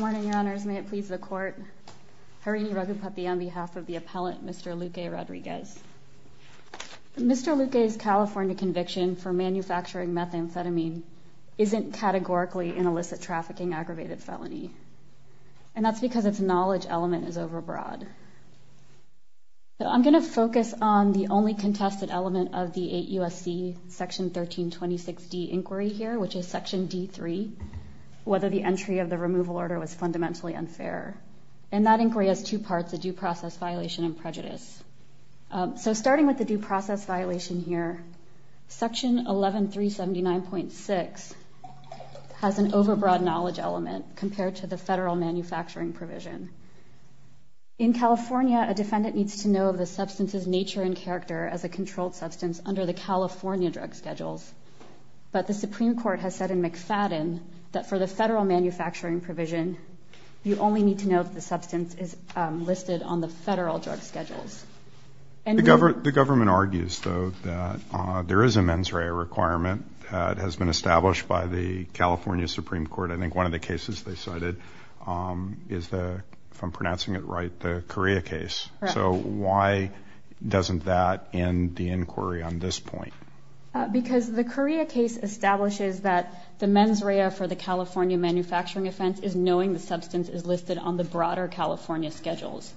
Morning, your honors. May it please the court. Harini Raghupathy on behalf of the appellant, Mr. Luque-Rodriguez. Mr. Luque's California conviction for manufacturing methamphetamine isn't categorically an illicit trafficking aggravated felony. And that's because its knowledge element is overbroad. I'm going to focus on the only contested element of the 8 U.S.C. section 1326 D inquiry here, which is section D3. Whether the entry of the removal order was fundamentally unfair. And that inquiry has two parts, a due process violation and prejudice. So starting with the due process violation here, section 11379.6 has an overbroad knowledge element compared to the federal manufacturing provision. In California, a defendant needs to know the substance's nature and character as a controlled substance under the California drug schedules. But the Supreme Court has said in McFadden that for the federal manufacturing provision, you only need to know that the substance is listed on the federal drug schedules. The government argues, though, that there is a mens rea requirement that has been established by the California Supreme Court. I think one of the cases they cited is the, if I'm pronouncing it right, the Korea case. So why doesn't that end the inquiry on this point? Because the Korea case establishes that the mens rea for the California manufacturing offense is knowing the substance is listed on the broader California schedules.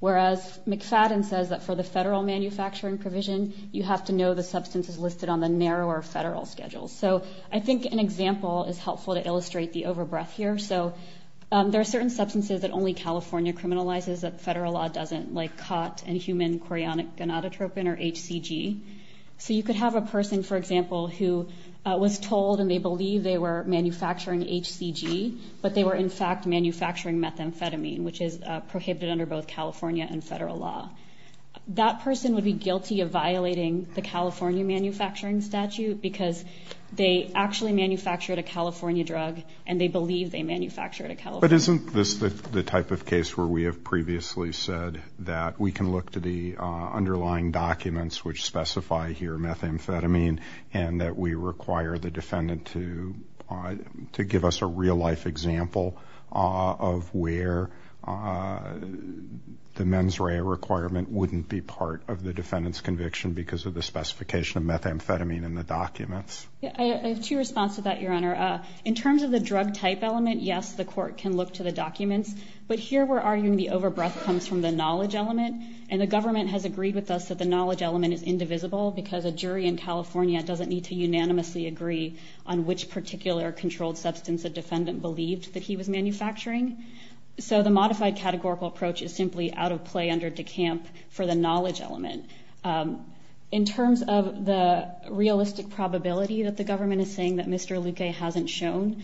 Whereas McFadden says that for the federal manufacturing provision, you have to know the substance is listed on the narrower federal schedules. So I think an example is helpful to illustrate the overbreath here. So there are certain substances that only California criminalizes that federal law doesn't, like cot and human chorionic gonadotropin or HCG. So you could have a person, for example, who was told and they believe they were manufacturing HCG, but they were in fact manufacturing methamphetamine, which is prohibited under both California and federal law. That person would be guilty of violating the California manufacturing statute because they actually manufactured a California drug, and they believe they manufactured a California drug. And that we require the defendant to give us a real life example of where the mens rea requirement wouldn't be part of the defendant's conviction because of the specification of methamphetamine in the documents. I have two responses to that, Your Honor. In terms of the drug type element, yes, the court can look to the documents. But here we're arguing the overbreath comes from the knowledge element, and the government has agreed with us that the knowledge element is indivisible because a jury in California doesn't need to unanimously agree on which particular controlled substance a defendant believed that he was manufacturing. So the modified categorical approach is simply out of play under DeCamp for the knowledge element. In terms of the realistic probability that the government is saying that Mr. Luque hasn't shown,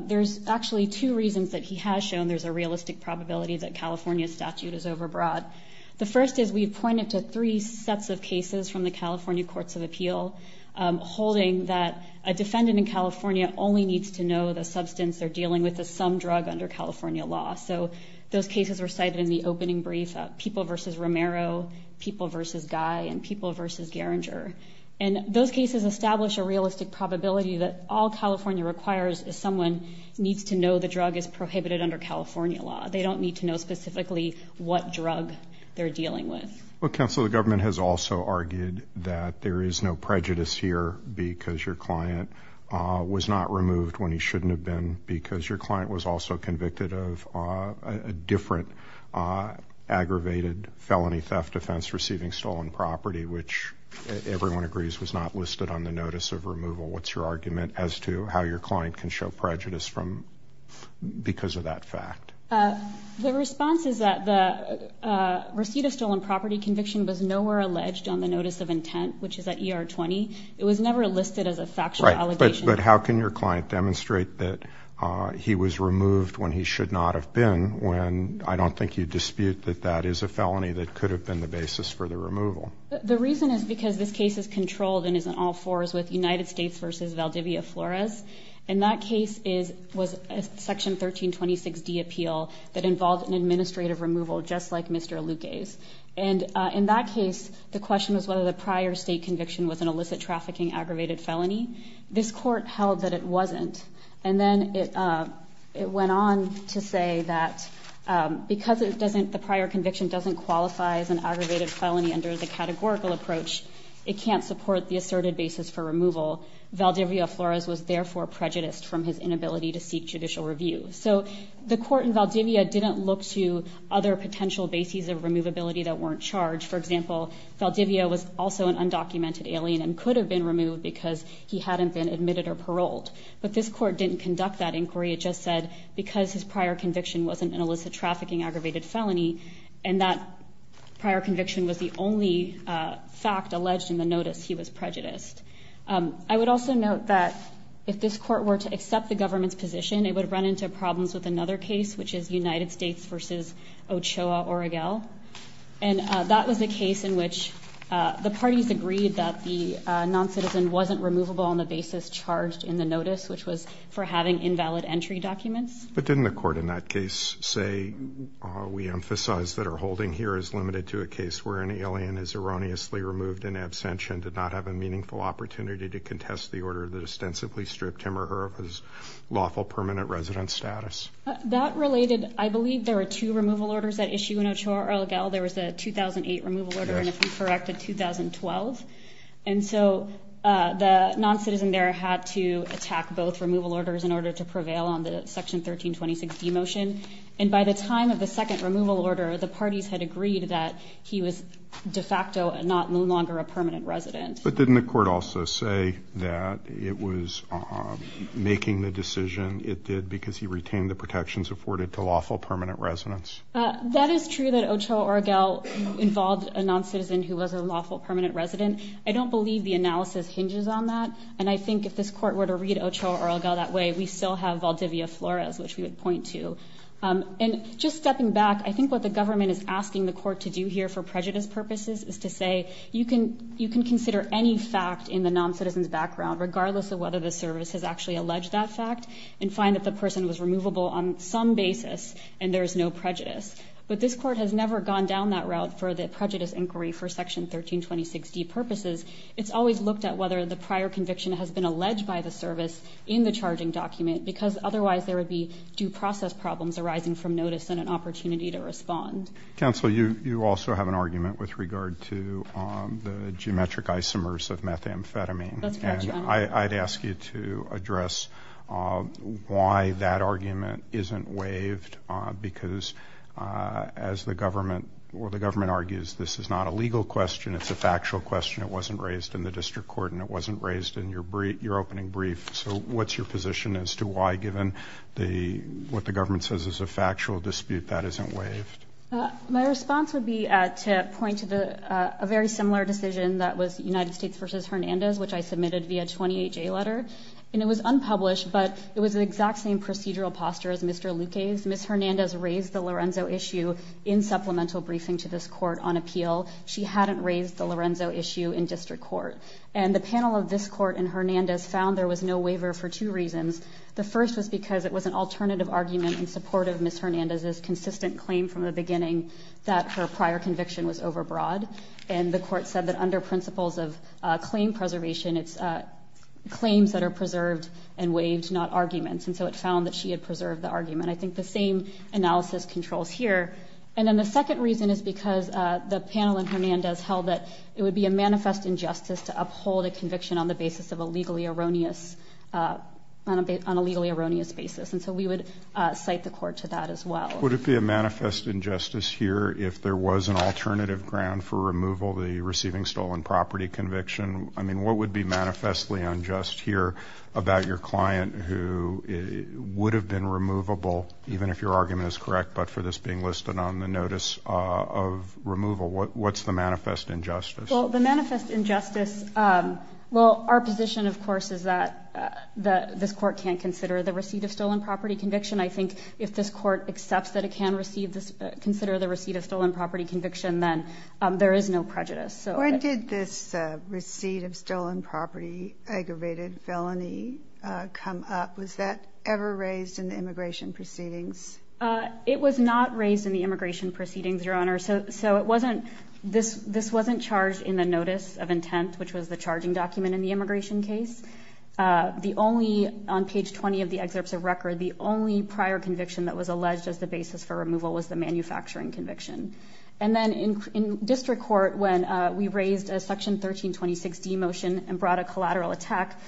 there's actually two reasons that he has shown there's a realistic probability that California statute is overbroad. The first is we pointed to three sets of cases from the California Courts of Appeal, holding that a defendant in California only needs to know the substance they're dealing with is some drug under California law. So those cases were cited in the opening brief, people versus Romero, people versus Guy, and people versus Gerringer. And those cases establish a realistic probability that all California requires is someone needs to know the drug is prohibited under California law. They don't need to know specifically what drug they're dealing with. Well, counsel, the government has also argued that there is no prejudice here because your client was not removed when he shouldn't have been, because your client was also convicted of a different aggravated felony theft offense receiving stolen property, which everyone agrees was not listed on the notice of removal. What's your argument as to how your client can show prejudice because of that fact? The response is that the receipt of stolen property conviction was nowhere alleged on the notice of intent, which is at ER-20. It was never listed as a factual allegation. But how can your client demonstrate that he was removed when he should not have been, when I don't think you dispute that that is a felony that could have been the basis for the removal? The reason is because this case is controlled and is an all-fours with United States versus Valdivia Flores. And that case was a Section 1326D appeal that involved an administrative removal just like Mr. Luque's. And in that case, the question was whether the prior state conviction was an illicit trafficking aggravated felony. This court held that it wasn't. And then it went on to say that because the prior conviction doesn't qualify as an aggravated felony under the categorical approach, it can't support the asserted basis for removal. Valdivia Flores was therefore prejudiced from his inability to seek judicial review. So the court in Valdivia didn't look to other potential bases of removability that weren't charged. For example, Valdivia was also an undocumented alien and could have been removed because he hadn't been admitted or paroled. But this court didn't conduct that inquiry. It just said because his prior conviction wasn't an illicit trafficking aggravated felony, and that prior conviction was the only fact alleged in the notice, he was prejudiced. I would also note that if this court were to accept the government's position, it would run into problems with another case, which is United States versus Ochoa Oregel. And that was a case in which the parties agreed that the noncitizen wasn't removable on the basis charged in the notice, which was for having invalid entry documents. But didn't the court in that case say, we emphasize that our holding here is limited to a case where an alien is erroneously removed in absentia and did not have a meaningful opportunity to contest the order that ostensibly stripped him or her of his lawful permanent residence status? That related, I believe there were two removal orders at issue in Ochoa Oregel. There was a 2008 removal order and, if I'm correct, a 2012. And so the noncitizen there had to attack both removal orders in order to prevail on the Section 1326D motion. And by the time of the second removal order, the parties had agreed that he was de facto no longer a permanent resident. But didn't the court also say that it was making the decision it did because he retained the protections afforded to lawful permanent residents? That is true that Ochoa Oregel involved a noncitizen who was a lawful permanent resident. I don't believe the analysis hinges on that. And I think if this court were to read Ochoa Oregel that way, we still have Valdivia Flores, which we would point to. And just stepping back, I think what the government is asking the court to do here for prejudice purposes is to say you can consider any fact in the noncitizen's background, regardless of whether the service has actually alleged that fact, and find that the person was removable on some basis and there is no prejudice. But this court has never gone down that route for the prejudice inquiry for Section 1326D purposes. It's always looked at whether the prior conviction has been alleged by the service in the charging document because otherwise there would be due process problems arising from notice and an opportunity to respond. Counsel, you also have an argument with regard to the geometric isomers of methamphetamine. And I'd ask you to address why that argument isn't waived, because as the government argues this is not a legal question, it's a factual question. It wasn't raised in the district court and it wasn't raised in your opening brief. So what's your position as to why, given what the government says is a factual dispute, that isn't waived? My response would be to point to a very similar decision that was United States v. Hernandez, which I submitted via a 28-J letter. And it was unpublished, but it was the exact same procedural posture as Mr. Luque's. Ms. Hernandez raised the Lorenzo issue in supplemental briefing to this court on appeal. She hadn't raised the Lorenzo issue in district court. And the panel of this court in Hernandez found there was no waiver for two reasons. The first was because it was an alternative argument in support of Ms. Hernandez's consistent claim from the beginning that her prior conviction was overbroad. And the court said that under principles of claim preservation, it's claims that are preserved and waived, not arguments. And so it found that she had preserved the argument. I think the same analysis controls here. And then the second reason is because the panel in Hernandez held that it would be a manifest injustice to uphold a conviction on the basis of a legally erroneous basis. And so we would cite the court to that as well. Would it be a manifest injustice here if there was an alternative ground for removal, the receiving stolen property conviction? I mean, what would be manifestly unjust here about your client who would have been removable, even if your argument is correct, but for this being listed on the notice of removal? What's the manifest injustice? Well, the manifest injustice, well, our position, of course, is that this court can't consider the receipt of stolen property conviction. I think if this court accepts that it can receive this, consider the receipt of stolen property conviction, then there is no prejudice. When did this receipt of stolen property aggravated felony come up? Was that ever raised in the immigration proceedings? It was not raised in the immigration proceedings, Your Honor. So it wasn't this wasn't charged in the notice of intent, which was the charging document in the immigration case. The only, on page 20 of the excerpts of record, the only prior conviction that was alleged as the basis for removal was the manufacturing conviction. And then in district court, when we raised a Section 1326D motion and brought a collateral attack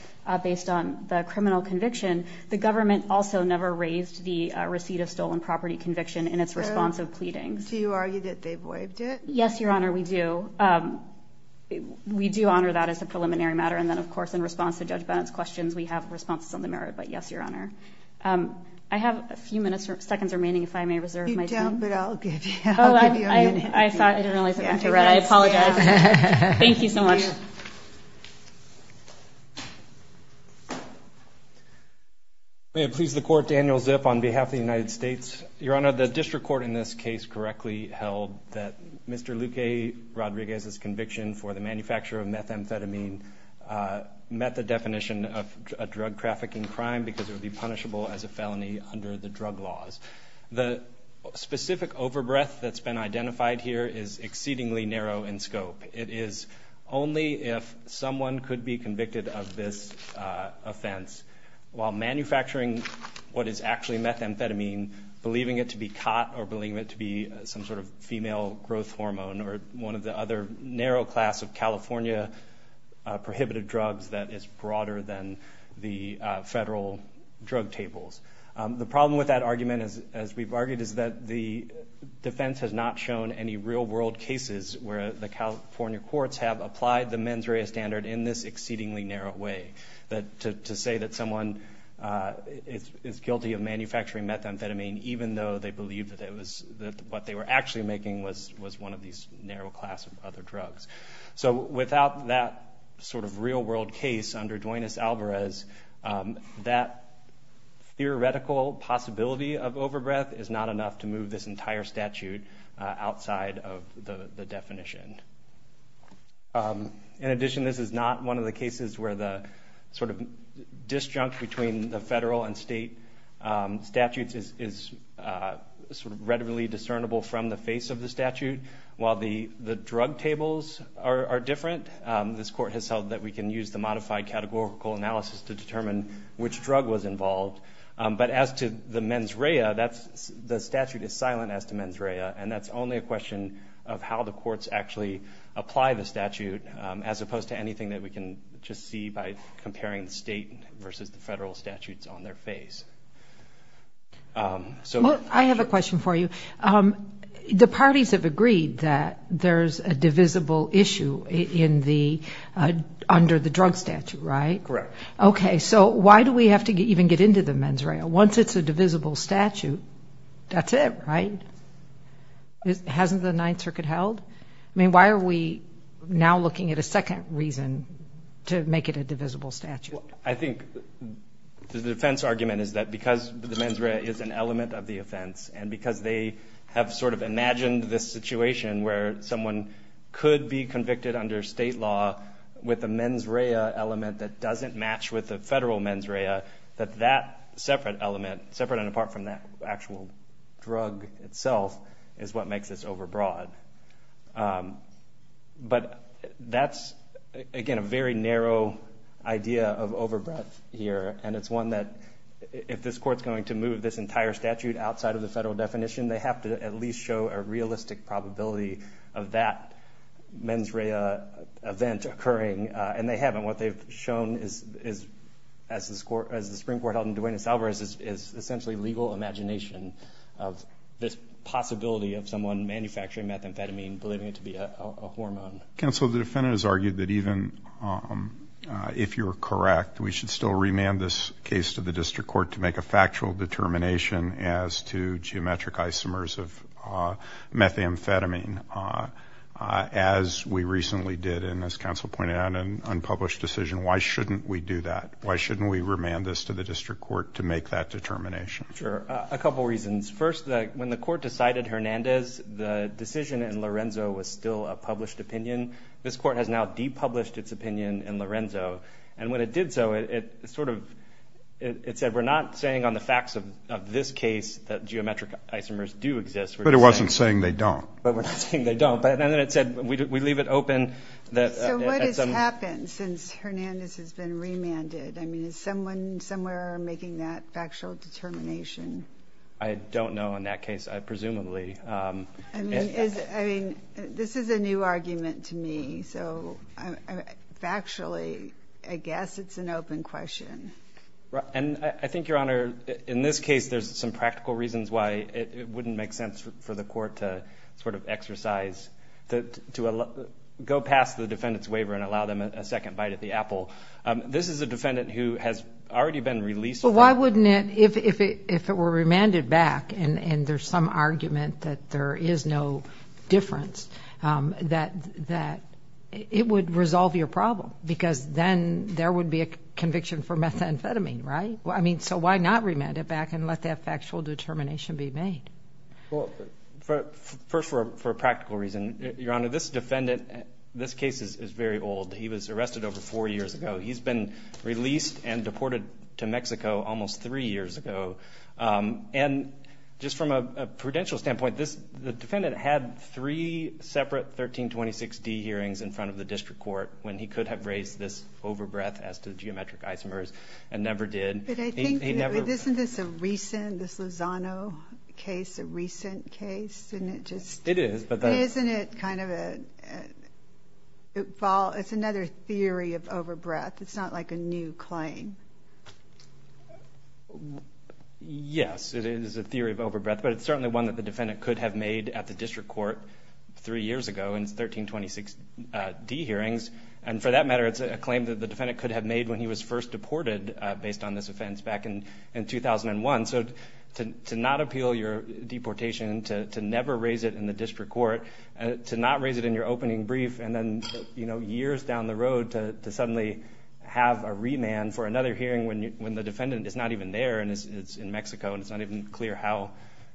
based on the criminal conviction, the government also never raised the receipt of stolen property conviction in its response of pleadings. Do you argue that they've waived it? Yes, Your Honor, we do. We do honor that as a preliminary matter. And then, of course, in response to Judge Bennett's questions, we have responses on the merit. But yes, Your Honor. I have a few minutes or seconds remaining, if I may reserve my time. You don't, but I'll give you a minute. I thought I didn't realize I went to read. I apologize. Thank you so much. May it please the Court, Daniel Zip on behalf of the United States. Your Honor, the district court in this case correctly held that Mr. Luque Rodriguez's conviction for the manufacture of methamphetamine met the definition of a drug trafficking crime because it would be punishable as a felony under the drug laws. The specific overbreath that's been identified here is exceedingly narrow in scope. It is only if someone could be convicted of this offense while manufacturing what is actually methamphetamine, believing it to be COT or believing it to be some sort of female growth hormone or one of the other narrow class of California prohibited drugs that is broader than the federal drug tables. The problem with that argument, as we've argued, is that the defense has not shown any real-world cases where the California courts have applied the mens rea standard in this exceedingly narrow way. To say that someone is guilty of manufacturing methamphetamine, even though they believe that what they were actually making was one of these narrow class of other drugs. So without that sort of real-world case under Duanes Alvarez, that theoretical possibility of overbreath is not enough to move this entire statute outside of the definition. In addition, this is not one of the cases where the sort of disjunct between the federal and state statutes is sort of readily discernible from the face of the statute. While the drug tables are different, this court has held that we can use the modified categorical analysis to determine which drug was involved. But as to the mens rea, the statute is silent as to mens rea, and that's only a question of how the courts actually apply the statute, as opposed to anything that we can just see by comparing the state versus the federal statutes on their face. Well, I have a question for you. The parties have agreed that there's a divisible issue under the drug statute, right? Correct. Okay, so why do we have to even get into the mens rea? Once it's a divisible statute, that's it, right? Hasn't the Ninth Circuit held? I mean, why are we now looking at a second reason to make it a divisible statute? I think the defense argument is that because the mens rea is an element of the offense and because they have sort of imagined this situation where someone could be convicted under state law with a mens rea element that doesn't match with a federal mens rea, that that separate element, separate and apart from that actual drug itself, is what makes this overbroad. But that's, again, a very narrow idea of overbroad here, and it's one that if this court's going to move this entire statute outside of the federal definition, they have to at least show a realistic probability of that mens rea event occurring, and they haven't. What they've shown is, as the Supreme Court held in Duenas-Alvarez, is essentially legal imagination of this possibility of someone manufacturing methamphetamine, believing it to be a hormone. Counsel, the defendant has argued that even if you're correct, we should still remand this case to the district court to make a factual determination as to geometric isomers of methamphetamine, as we recently did, and as counsel pointed out, an unpublished decision. Why shouldn't we do that? Why shouldn't we remand this to the district court to make that determination? Sure. A couple reasons. First, when the court decided Hernandez, the decision in Lorenzo was still a published opinion. This court has now depublished its opinion in Lorenzo, and when it did so, it sort of said, we're not saying on the facts of this case that geometric isomers do exist. But it wasn't saying they don't. But we're not saying they don't. But then it said, we leave it open. So what has happened since Hernandez has been remanded? I mean, is someone somewhere making that factual determination? I don't know in that case, presumably. I mean, this is a new argument to me. So factually, I guess it's an open question. And I think, Your Honor, in this case, there's some practical reasons why it wouldn't make sense for the court to sort of exercise, to go past the defendant's waiver and allow them a second bite at the apple. This is a defendant who has already been released. Well, why wouldn't it, if it were remanded back, and there's some argument that there is no difference, that it would resolve your problem? Because then there would be a conviction for methamphetamine, right? I mean, so why not remand it back and let that factual determination be made? First, for a practical reason, Your Honor, this defendant, this case is very old. He was arrested over four years ago. He's been released and deported to Mexico almost three years ago. And just from a prudential standpoint, the defendant had three separate 1326D hearings in front of the district court when he could have raised this overbreath as to the geometric isomers and never did. But I think, isn't this a recent, this Lozano case, a recent case? Isn't it just? It is. But isn't it kind of a, it's another theory of overbreath. It's not like a new claim. Yes, it is a theory of overbreath. But it's certainly one that the defendant could have made at the district court three years ago in 1326D hearings, and for that matter, it's a claim that the defendant could have made when he was first deported based on this offense back in 2001. So to not appeal your deportation, to never raise it in the district court, to not raise it in your opening brief and then, you know, years down the road to suddenly have a remand for another hearing when the defendant is not even there and is in Mexico and it's not even clear how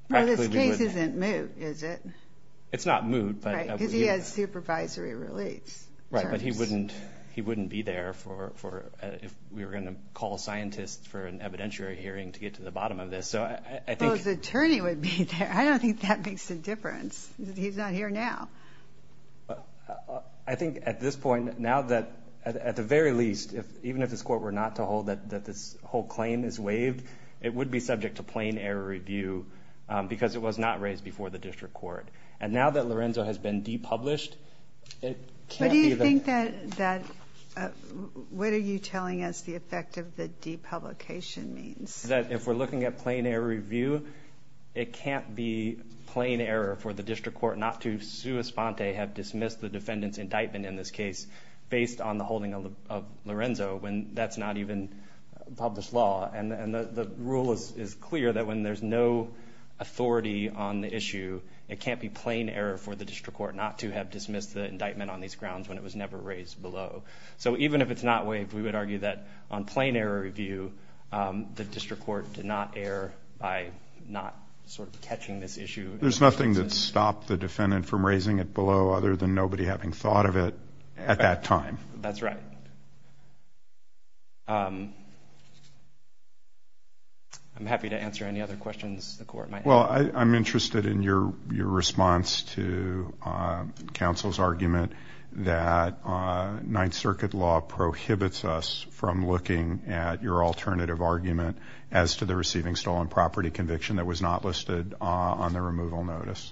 practically we would. Well, this case isn't moot, is it? It's not moot. Right, because he has supervisory relief. Right, but he wouldn't be there if we were going to call scientists for an evidentiary hearing to get to the bottom of this. So I think. Well, his attorney would be there. I don't think that makes a difference. He's not here now. I think at this point, now that, at the very least, even if this court were not to hold that this whole claim is waived, it would be subject to plain error review because it was not raised before the district court. And now that Lorenzo has been depublished, it can't be that. What do you think that, what are you telling us the effect of the depublication means? That if we're looking at plain error review, it can't be plain error for the district court not to sui sponte, have dismissed the defendant's indictment in this case, based on the holding of Lorenzo when that's not even published law. And the rule is clear that when there's no authority on the issue, it can't be plain error for the district court not to have dismissed the indictment on these grounds when it was never raised below. So even if it's not waived, we would argue that on plain error review, the district court did not err by not sort of catching this issue. There's nothing that stopped the defendant from raising it below other than nobody having thought of it at that time. That's right. I'm happy to answer any other questions the court might have. Well, I'm interested in your response to counsel's argument that Ninth Circuit law prohibits us from looking at your alternative argument as to the receiving stolen property conviction that was not listed on the removal notice.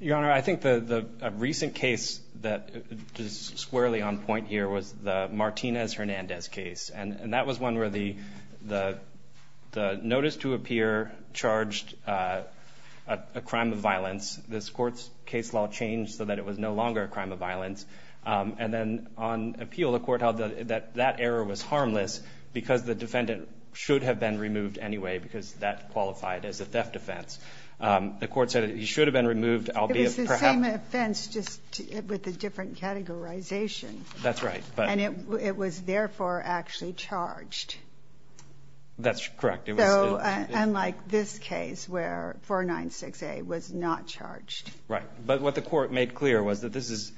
Your Honor, I think the recent case that is squarely on point here was the Martinez-Hernandez case. And that was one where the notice to appear charged a crime of violence. This court's case law changed so that it was no longer a crime of violence. And then on appeal, the court held that that error was harmless because the defendant should have been removed anyway, because that qualified as a theft offense. The court said he should have been removed, albeit perhaps. It was the same offense, just with a different categorization. That's right. And it was therefore actually charged. That's correct. So unlike this case where 496A was not charged. Right. But what the court made clear was that this is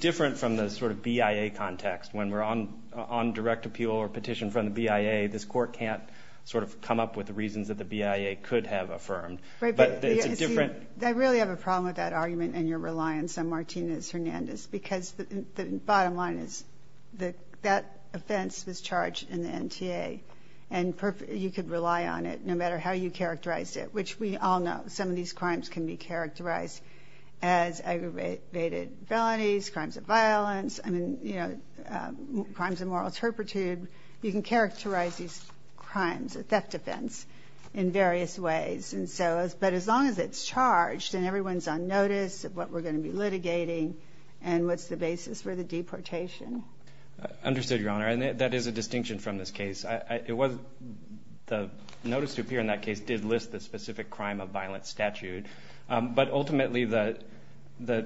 different from the sort of BIA context. When we're on direct appeal or petition from the BIA, this court can't sort of come up with the reasons that the BIA could have affirmed. I really have a problem with that argument and your reliance on Martinez-Hernandez. Because the bottom line is that that offense was charged in the NTA. And you could rely on it no matter how you characterized it, which we all know some of these crimes can be characterized as aggravated felonies, crimes of violence. I mean, you know, crimes of moral turpitude. You can characterize these crimes, a theft offense, in various ways. But as long as it's charged and everyone's on notice of what we're going to be litigating and what's the basis for the deportation. Understood, Your Honor. And that is a distinction from this case. The notice to appear in that case did list the specific crime of violence statute. But ultimately, the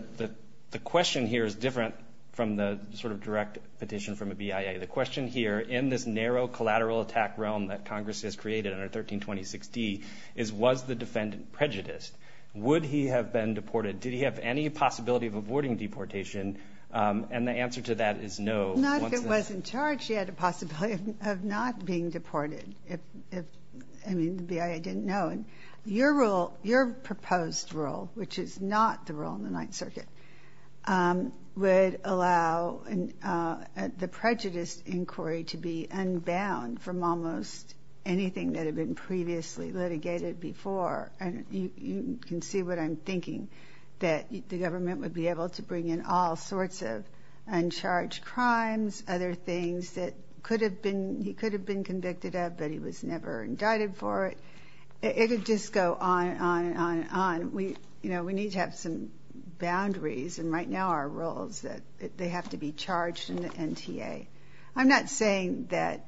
question here is different from the sort of direct petition from a BIA. The question here, in this narrow collateral attack realm that Congress has created under 1326D, is was the defendant prejudiced? Would he have been deported? Did he have any possibility of avoiding deportation? And the answer to that is no. Not if it wasn't charged, he had a possibility of not being deported. I mean, the BIA didn't know. Your proposed rule, which is not the rule in the Ninth Circuit, would allow the prejudice inquiry to be unbound from almost anything that had been previously litigated before. And you can see what I'm thinking, that the government would be able to bring in all sorts of uncharged crimes, other things that he could have been convicted of, but he was never indicted for it. It would just go on and on and on. We need to have some boundaries, and right now our rule is that they have to be charged in the NTA. I'm not saying that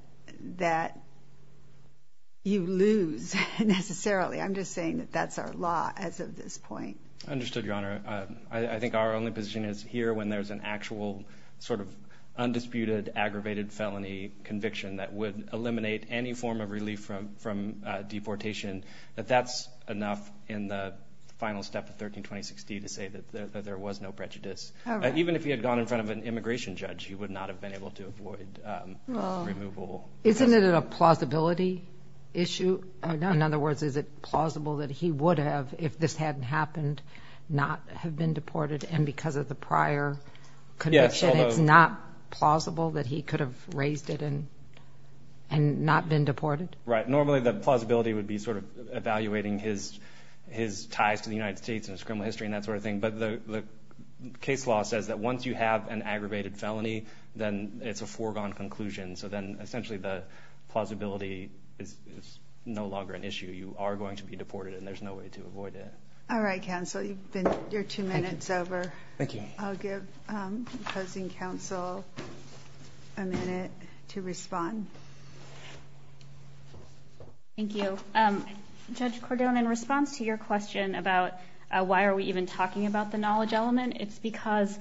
you lose, necessarily. I'm just saying that that's our law as of this point. Understood, Your Honor. I think our only position is here when there's an actual sort of undisputed, aggravated felony conviction that would eliminate any form of relief from deportation, that that's enough in the final step of 13-2060 to say that there was no prejudice. Even if he had gone in front of an immigration judge, he would not have been able to avoid removal. Isn't it a plausibility issue? In other words, is it plausible that he would have, if this hadn't happened, not have been deported? And because of the prior conviction, it's not plausible that he could have raised it and not been deported? Right. Normally the plausibility would be sort of evaluating his ties to the United States and his criminal history and that sort of thing. But the case law says that once you have an aggravated felony, then it's a foregone conclusion. So then essentially the plausibility is no longer an issue. You are going to be deported, and there's no way to avoid it. All right, counsel. Your two minutes over. Thank you. I'll give opposing counsel a minute to respond. Thank you. Judge Cordon, in response to your question about why are we even talking about the knowledge element, it's because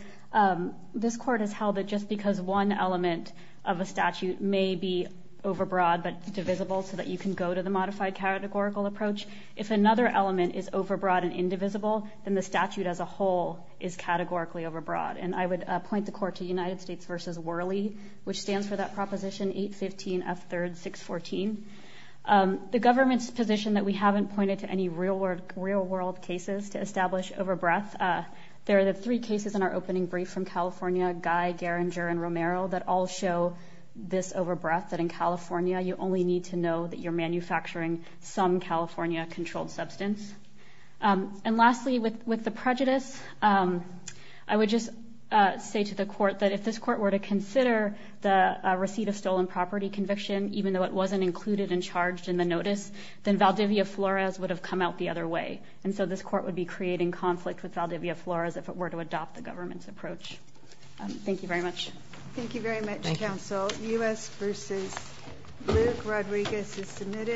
this court has held that just because one element of a statute may be overbroad but divisible so that you can go to the modified categorical approach, if another element is overbroad and indivisible, then the statute as a whole is categorically overbroad. And I would point the court to United States v. Worley, which stands for that Proposition 815F3-614. The government's position that we haven't pointed to any real-world cases to establish over breadth. There are the three cases in our opening brief from California, Guy, Geringer, and Romero, that all show this over breadth, that in California you only need to know that you're manufacturing some California-controlled substance. And lastly, with the prejudice, I would just say to the court that if this court were to consider the receipt of stolen property conviction, even though it wasn't included and charged in the notice, then Valdivia Flores would have come out the other way. And so this court would be creating conflict with Valdivia Flores if it were to adopt the government's approach. Thank you very much. Thank you very much, counsel. U.S. v. Luke Rodriguez is submitted.